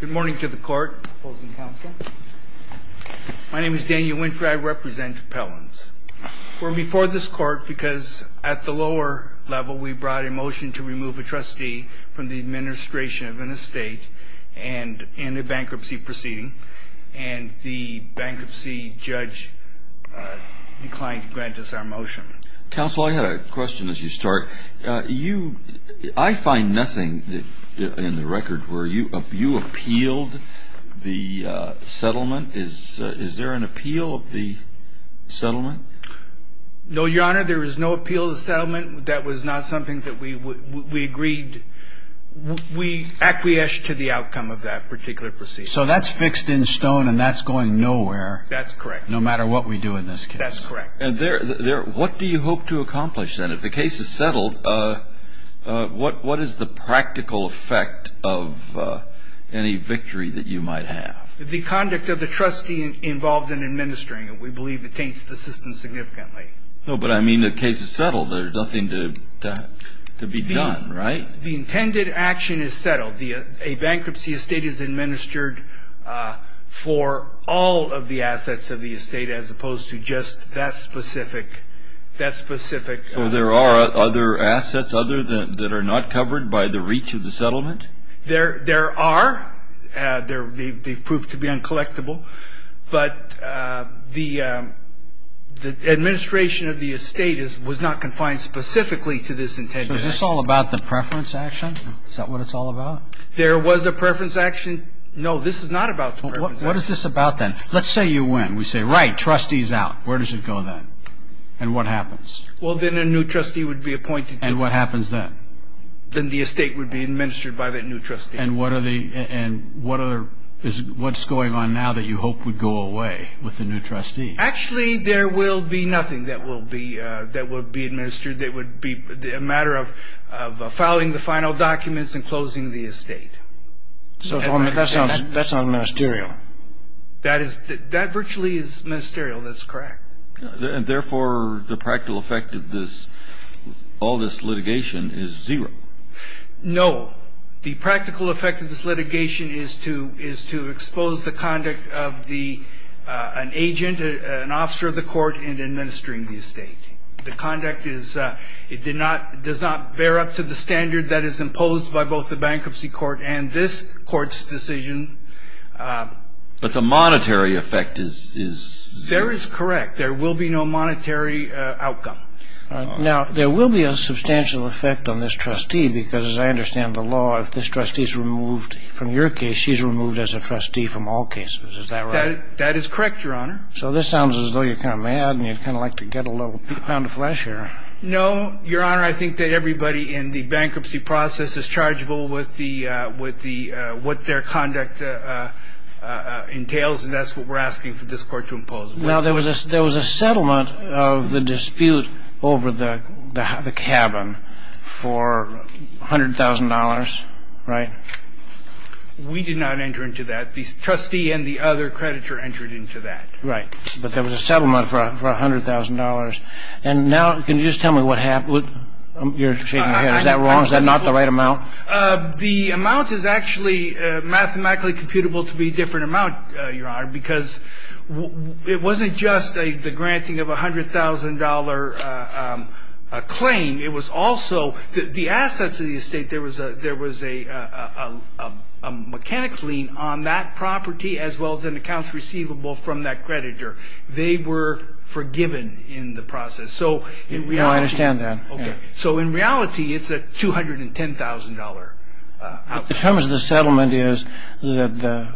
Good morning to the court. Opposing counsel. My name is Daniel Winfrey, I represent Appellants. We're before this court because at the lower level we brought a motion to remove a trustee from the administration of an estate in a bankruptcy proceeding, and the bankruptcy judge declined to grant us our motion. Counsel, I had a question as you start. You, I find nothing in the record where you appealed the settlement. Is there an appeal of the settlement? No, Your Honor, there is no appeal of the settlement. That was not something that we agreed. We acquiesced to the outcome of that particular proceeding. So that's fixed in stone and that's going nowhere. That's correct. No matter what we do in this case. That's correct. What do you hope to accomplish then? If the case is settled, what is the practical effect of any victory that you might have? The conduct of the trustee involved in administering it. We believe it taints the system significantly. No, but I mean the case is settled. There's nothing to be done, right? The intended action is settled. A bankruptcy estate is administered for all of the assets of the estate as opposed to just that specific, that specific. So there are other assets other than, that are not covered by the reach of the settlement? There are. They've proved to be uncollectible. But the administration of the estate was not confined specifically to this intended action. So is this all about the preference action? Is that what it's all about? There was a preference action. No, this is not about the preference action. What is this about then? Let's say you win. We say, right, trustee's out. Where does it go then? And what happens? Well, then a new trustee would be appointed. And what happens then? Then the estate would be administered by that new trustee. And what's going on now that you hope would go away with the new trustee? Actually, there will be nothing that will be administered. It would be a matter of filing the final documents and closing the estate. That sounds ministerial. That virtually is ministerial. That's correct. And, therefore, the practical effect of all this litigation is zero. No. The practical effect of this litigation is to expose the conduct of an agent, an officer of the court, in administering the estate. The conduct does not bear up to the standard that is imposed by both the bankruptcy court and this court's decision. But the monetary effect is zero. There is correct. There will be no monetary outcome. Now, there will be a substantial effect on this trustee because, as I understand the law, if this trustee is removed from your case, she's removed as a trustee from all cases. Is that right? That is correct, Your Honor. So this sounds as though you're kind of mad and you'd kind of like to get a little peep out of the flesh here. No, Your Honor. I think that everybody in the bankruptcy process is chargeable with the what their conduct entails, and that's what we're asking for this Court to impose. Now, there was a settlement of the dispute over the cabin for $100,000, right? We did not enter into that. The trustee and the other creditor entered into that. Right. But there was a settlement for $100,000. And now can you just tell me what happened? You're shaking your head. Is that wrong? Is that not the right amount? The amount is actually mathematically computable to be a different amount, Your Honor, because it wasn't just the granting of a $100,000 claim. It was also the assets of the estate. There was a mechanics lien on that property as well as an account receivable from that creditor. They were forgiven in the process. No, I understand that. Okay. So in reality, it's a $210,000 outcome. The terms of the settlement is that the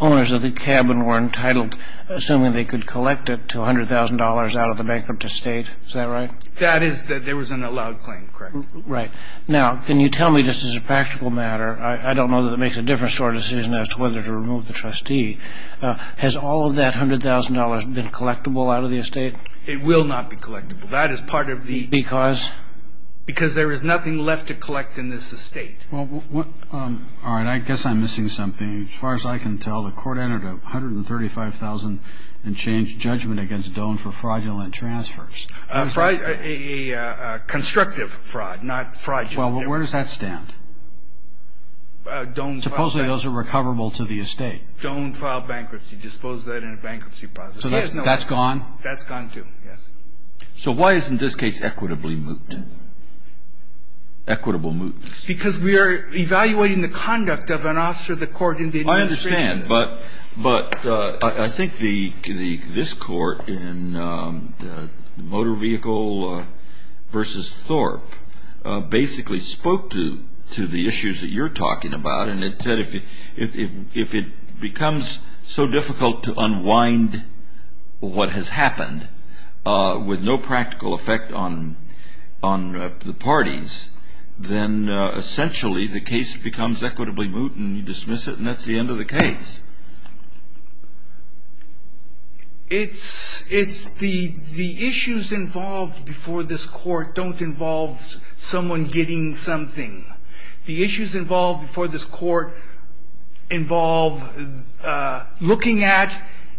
owners of the cabin were entitled, assuming they could collect it, to $100,000 out of the bankrupt estate. Is that right? That is that there was an allowed claim, correct. Right. Now, can you tell me, just as a practical matter, I don't know that it makes a difference to our decision as to whether to remove the trustee. Has all of that $100,000 been collectible out of the estate? It will not be collectible. That is part of the... Because? Because there is nothing left to collect in this estate. All right. I guess I'm missing something. As far as I can tell, the court entered $135,000 and changed judgment against Doane for fraudulent transfers. A constructive fraud, not fraudulent. Well, where does that stand? Doane filed bankruptcy. Supposedly those are recoverable to the estate. Doane filed bankruptcy. Disposed of that in a bankruptcy process. So that's gone? That's gone, too, yes. So why isn't this case equitably moot? Equitable moot. Because we are evaluating the conduct of an officer of the court in the administration. But I think this court in the motor vehicle versus Thorpe basically spoke to the issues that you're talking about, and it said if it becomes so difficult to unwind what has happened with no practical effect on the parties, then essentially the case becomes equitably moot, and you dismiss it and that's the end of the case. It's the issues involved before this court don't involve someone getting something. The issues involved before this court involve looking at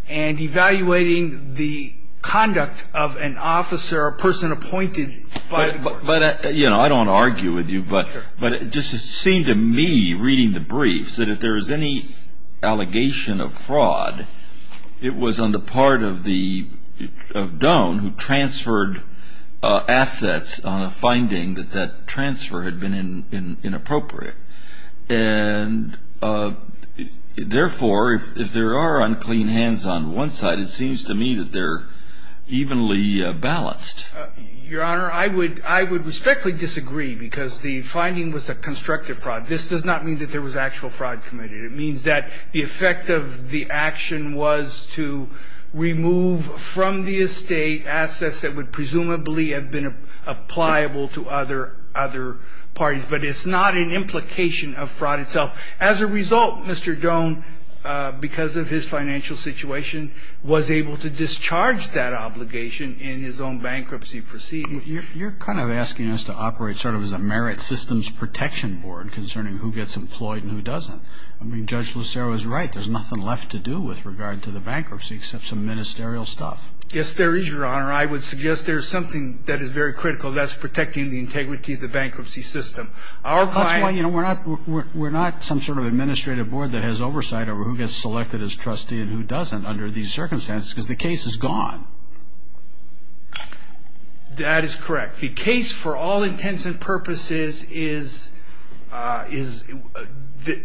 and evaluating the conduct of an officer, a person appointed by the court. But, you know, I don't want to argue with you, but it just seemed to me reading the briefs that if there was any allegation of fraud, it was on the part of Doane who transferred assets on a finding that that transfer had been inappropriate. And, therefore, if there are unclean hands on one side, it seems to me that they're evenly balanced. Your Honor, I would respectfully disagree because the finding was a constructive fraud. This does not mean that there was actual fraud committed. It means that the effect of the action was to remove from the estate assets that would presumably have been appliable to other parties. But it's not an implication of fraud itself. As a result, Mr. Doane, because of his financial situation, was able to discharge that obligation in his own bankruptcy proceeding. You're kind of asking us to operate sort of as a merit systems protection board concerning who gets employed and who doesn't. I mean, Judge Lucero is right. There's nothing left to do with regard to the bankruptcy except some ministerial stuff. Yes, there is, Your Honor. I would suggest there's something that is very critical. That's protecting the integrity of the bankruptcy system. That's why, you know, we're not some sort of administrative board that has oversight over who gets selected as trustee and who doesn't under these circumstances because the case is gone. That is correct. The case, for all intents and purposes,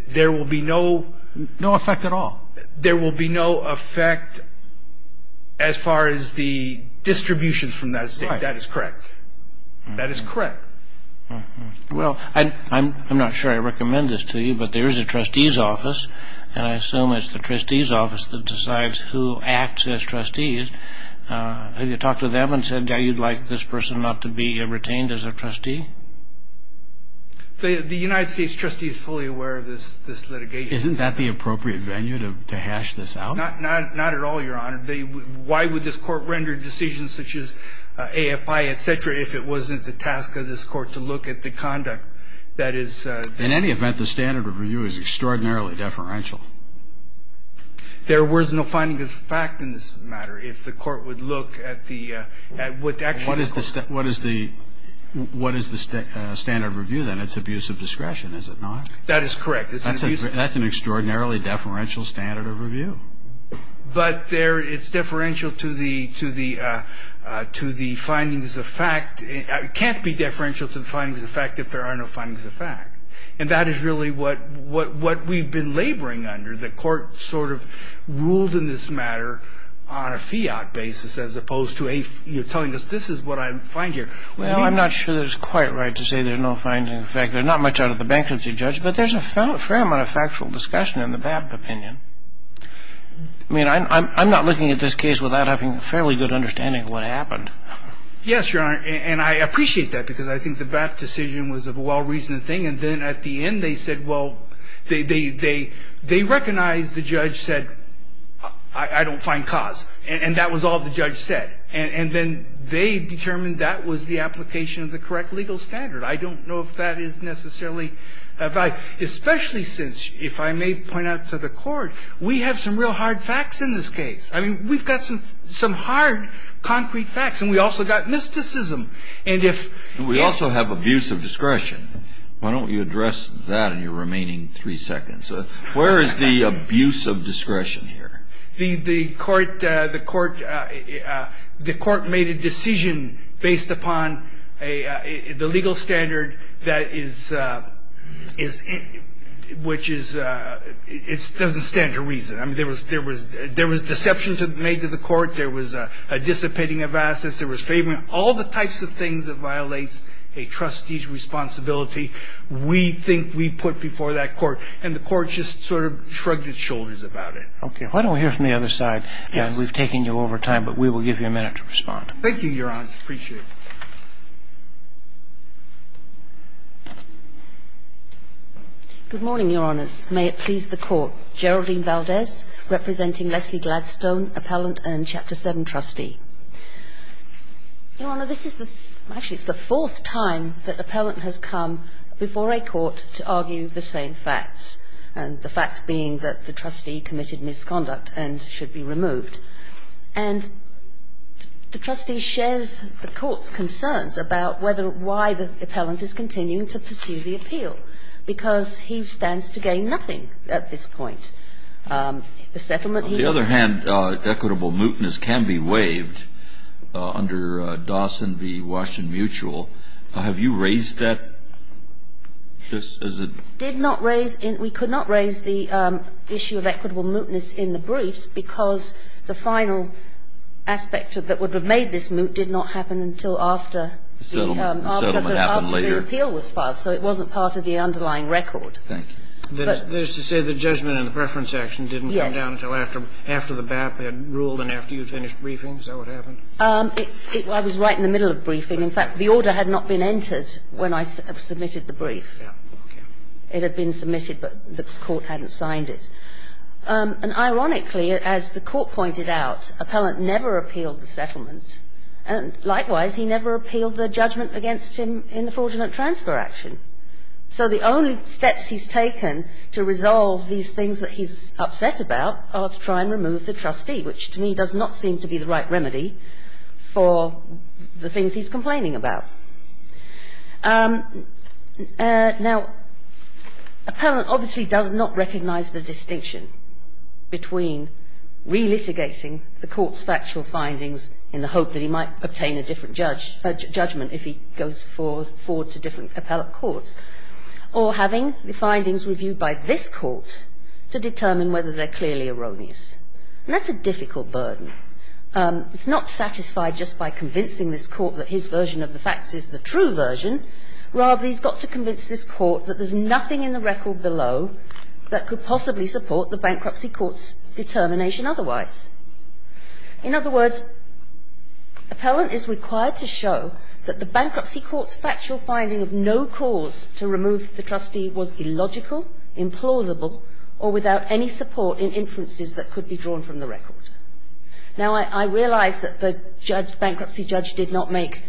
there will be no effect at all. There will be no effect as far as the distributions from that estate. That is correct. That is correct. Well, I'm not sure I recommend this to you, but there is a trustee's office, and I assume it's the trustee's office that decides who acts as trustee. Have you talked to them and said, yeah, you'd like this person not to be retained as a trustee? The United States trustee is fully aware of this litigation. Isn't that the appropriate venue to hash this out? Not at all, Your Honor. Why would this court render decisions such as AFI, et cetera, if it wasn't the task of this court to look at the conduct that is? In any event, the standard of review is extraordinarily deferential. There was no findings of fact in this matter. If the court would look at the actual. What is the standard of review, then? It's abuse of discretion, is it not? That is correct. That's an extraordinarily deferential standard of review. But it's deferential to the findings of fact. It can't be deferential to the findings of fact if there are no findings of fact. And that is really what we've been laboring under. The court sort of ruled in this matter on a fiat basis as opposed to telling us this is what I find here. Well, I'm not sure that it's quite right to say there's no findings of fact. They're not much out of the bankruptcy judge, but there's a fair amount of factual discussion in the BAPT opinion. I mean, I'm not looking at this case without having a fairly good understanding of what happened. Yes, Your Honor. And I appreciate that, because I think the BAPT decision was a well-reasoned thing. And then at the end they said, well, they recognized the judge said, I don't find cause. And that was all the judge said. And then they determined that was the application of the correct legal standard. I don't know if that is necessarily a fact, especially since, if I may point out to the Court, we have some real hard facts in this case. I mean, we've got some hard, concrete facts. And we also got mysticism. And if we also have abuse of discretion. Why don't you address that in your remaining three seconds? Where is the abuse of discretion here? The court made a decision based upon the legal standard that is – which is – it doesn't stand to reason. I mean, there was – there was – there was deception made to the Court. There was dissipating of assets. There was favoring. All the types of things that violate a trustee's responsibility, we think we put before that Court. And the Court just sort of shrugged its shoulders about it. Okay. Why don't we hear from the other side? Yes. We've taken you over time, but we will give you a minute to respond. Thank you, Your Honor. I appreciate it. Good morning, Your Honors. May it please the Court. Geraldine Valdez, representing Leslie Gladstone, appellant and Chapter 7 trustee. Your Honor, this is the – actually, it's the fourth time that appellant has come before a court to argue the same facts. And the facts being that the trustee committed misconduct and should be removed. And the trustee shares the Court's concerns about whether – why the appellant is continuing to pursue the appeal. Because he stands to gain nothing at this point. The settlement he – On the other hand, equitable mootness can be waived under Dawson v. Washington Mutual. Have you raised that? Did not raise – we could not raise the issue of equitable mootness in the briefs because the final aspect that would have made this moot did not happen until after – The settlement happened later. The appeal was filed. So it wasn't part of the underlying record. Thank you. That is to say the judgment and the preference action didn't come down until after – Yes. After the BAP had ruled and after you had finished briefing? Is that what happened? I was right in the middle of briefing. In fact, the order had not been entered when I submitted the brief. Okay. It had been submitted, but the Court hadn't signed it. And ironically, as the Court pointed out, appellant never appealed the settlement. And likewise, he never appealed the judgment against him in the fraudulent transfer action. So the only steps he's taken to resolve these things that he's upset about are to try and remove the trustee, which to me does not seem to be the right remedy for the things he's complaining about. Now, appellant obviously does not recognize the distinction between relitigating the Court's factual findings in the hope that he might obtain a different judgment if he goes forward to different appellate courts or having the findings reviewed by this Court to determine whether they're clearly erroneous. And that's a difficult burden. It's not satisfied just by convincing this Court that his version of the facts is the true version. Rather, he's got to convince this Court that there's nothing in the record below that could possibly support the bankruptcy court's determination otherwise. In other words, appellant is required to show that the bankruptcy court's factual finding of no cause to remove the trustee was illogical, implausible, or without any support in inferences that could be drawn from the record. Now, I realize that the judge, bankruptcy judge, did not make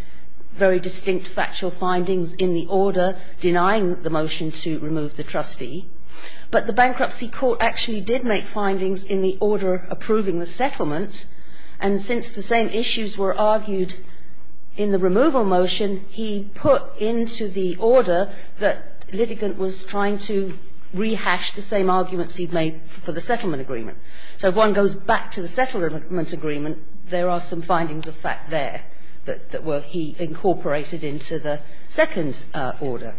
very distinct factual findings in the order denying the motion to remove the trustee. But the bankruptcy court actually did make findings in the order approving the settlement. And since the same issues were argued in the removal motion, he put into the order that litigant was trying to rehash the same arguments he'd made for the settlement agreement. So if one goes back to the settlement agreement, there are some findings of fact there that he incorporated into the second order.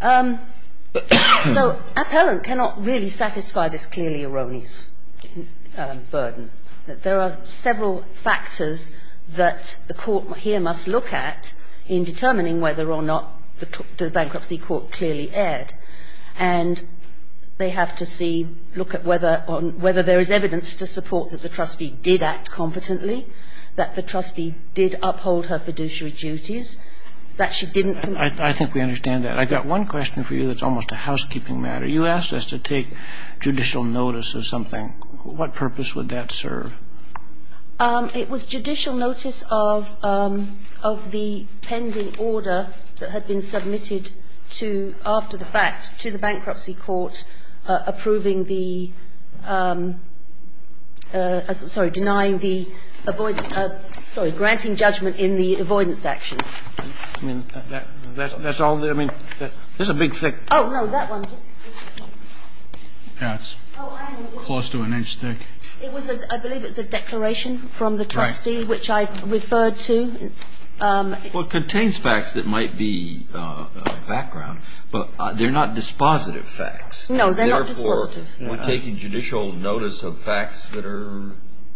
So appellant cannot really satisfy this clearly erroneous burden. There are several factors that the Court here must look at in determining whether or not the bankruptcy court clearly erred. And they have to see, look at whether there is evidence to support that the trustee did act competently, that the trustee did uphold her fiduciary duties, that she didn't do anything wrong, that the trustee didn't do anything wrong. I think we understand that. I've got one question for you that's almost a housekeeping matter. You asked us to take judicial notice of something. What purpose would that serve? It was judicial notice of the pending order that had been submitted to, after the fact, to the bankruptcy court approving the, sorry, denying the, sorry, granting judgment in the avoidance action. I mean, that's all the, I mean, there's a big thick. Oh, no, that one. Yeah, it's close to an inch thick. It was a, I believe it was a declaration from the trustee, which I referred to. Well, it contains facts that might be background. But they're not dispositive facts. No, they're not dispositive. And therefore, we're taking judicial notice of facts that are,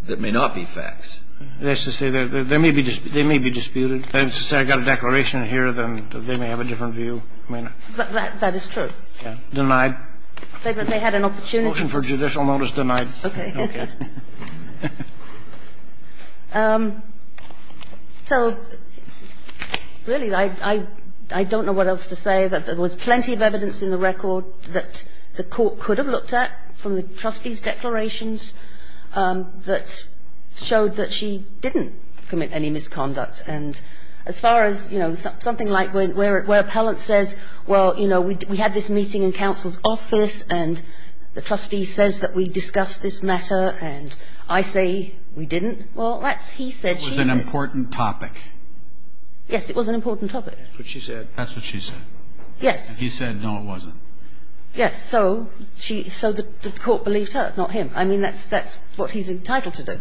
that may not be facts. That's to say, they may be disputed. That's to say, I've got a declaration here, then they may have a different view. That is true. Denied. They had an opportunity. Motion for judicial notice denied. Okay. Okay. So, really, I don't know what else to say. There was plenty of evidence in the record that the court could have looked at from the trustee's declarations that showed that she didn't commit any misconduct. And as far as, you know, something like where appellant says, well, you know, we had this meeting in counsel's office, and the trustee says that we discussed this matter, and I say we didn't. Well, that's he said, she said. It was an important topic. Yes, it was an important topic. That's what she said. That's what she said. Yes. And he said, no, it wasn't. Yes. So she, so the court believed her, not him. I mean, that's what he's entitled to do.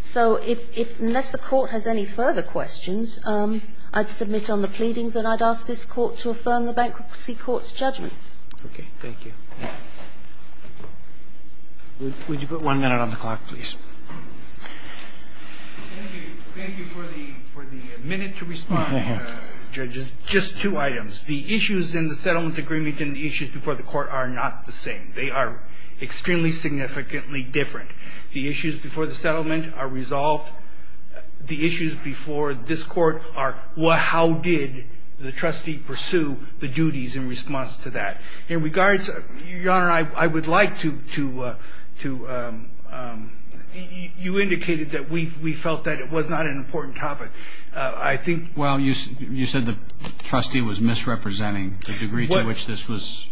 So if, unless the court has any further questions, I'd submit on the pleadings, and I'd ask this Court to affirm the Bankruptcy Court's judgment. Okay. Thank you. Would you put one minute on the clock, please? Thank you. Thank you for the minute to respond, Judges. Just two items. The issues in the settlement agreement and the issues before the Court are not the same. They are extremely significantly different. The issues before the settlement are resolved. The issues before this Court are, well, how did the trustee pursue the duties in response to that? In regards, Your Honor, I would like to, you indicated that we felt that it was not an important topic. I think. Well, you said the trustee was misrepresenting the degree to which this was.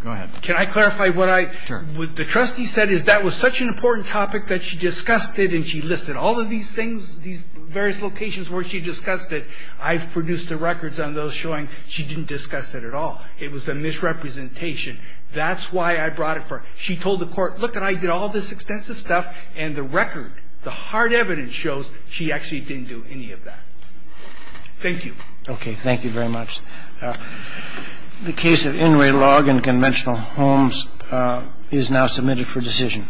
Go ahead. Can I clarify what I. Sure. What the trustee said is that was such an important topic that she discussed it, and she listed all of these things, these various locations where she discussed it. I've produced the records on those showing she didn't discuss it at all. It was a misrepresentation. That's why I brought it forth. She told the Court, look, and I did all this extensive stuff, and the record, the hard evidence shows she actually didn't do any of that. Thank you. Okay. Thank you very much. The case of Inouye Log and Conventional Homes is now submitted for decision.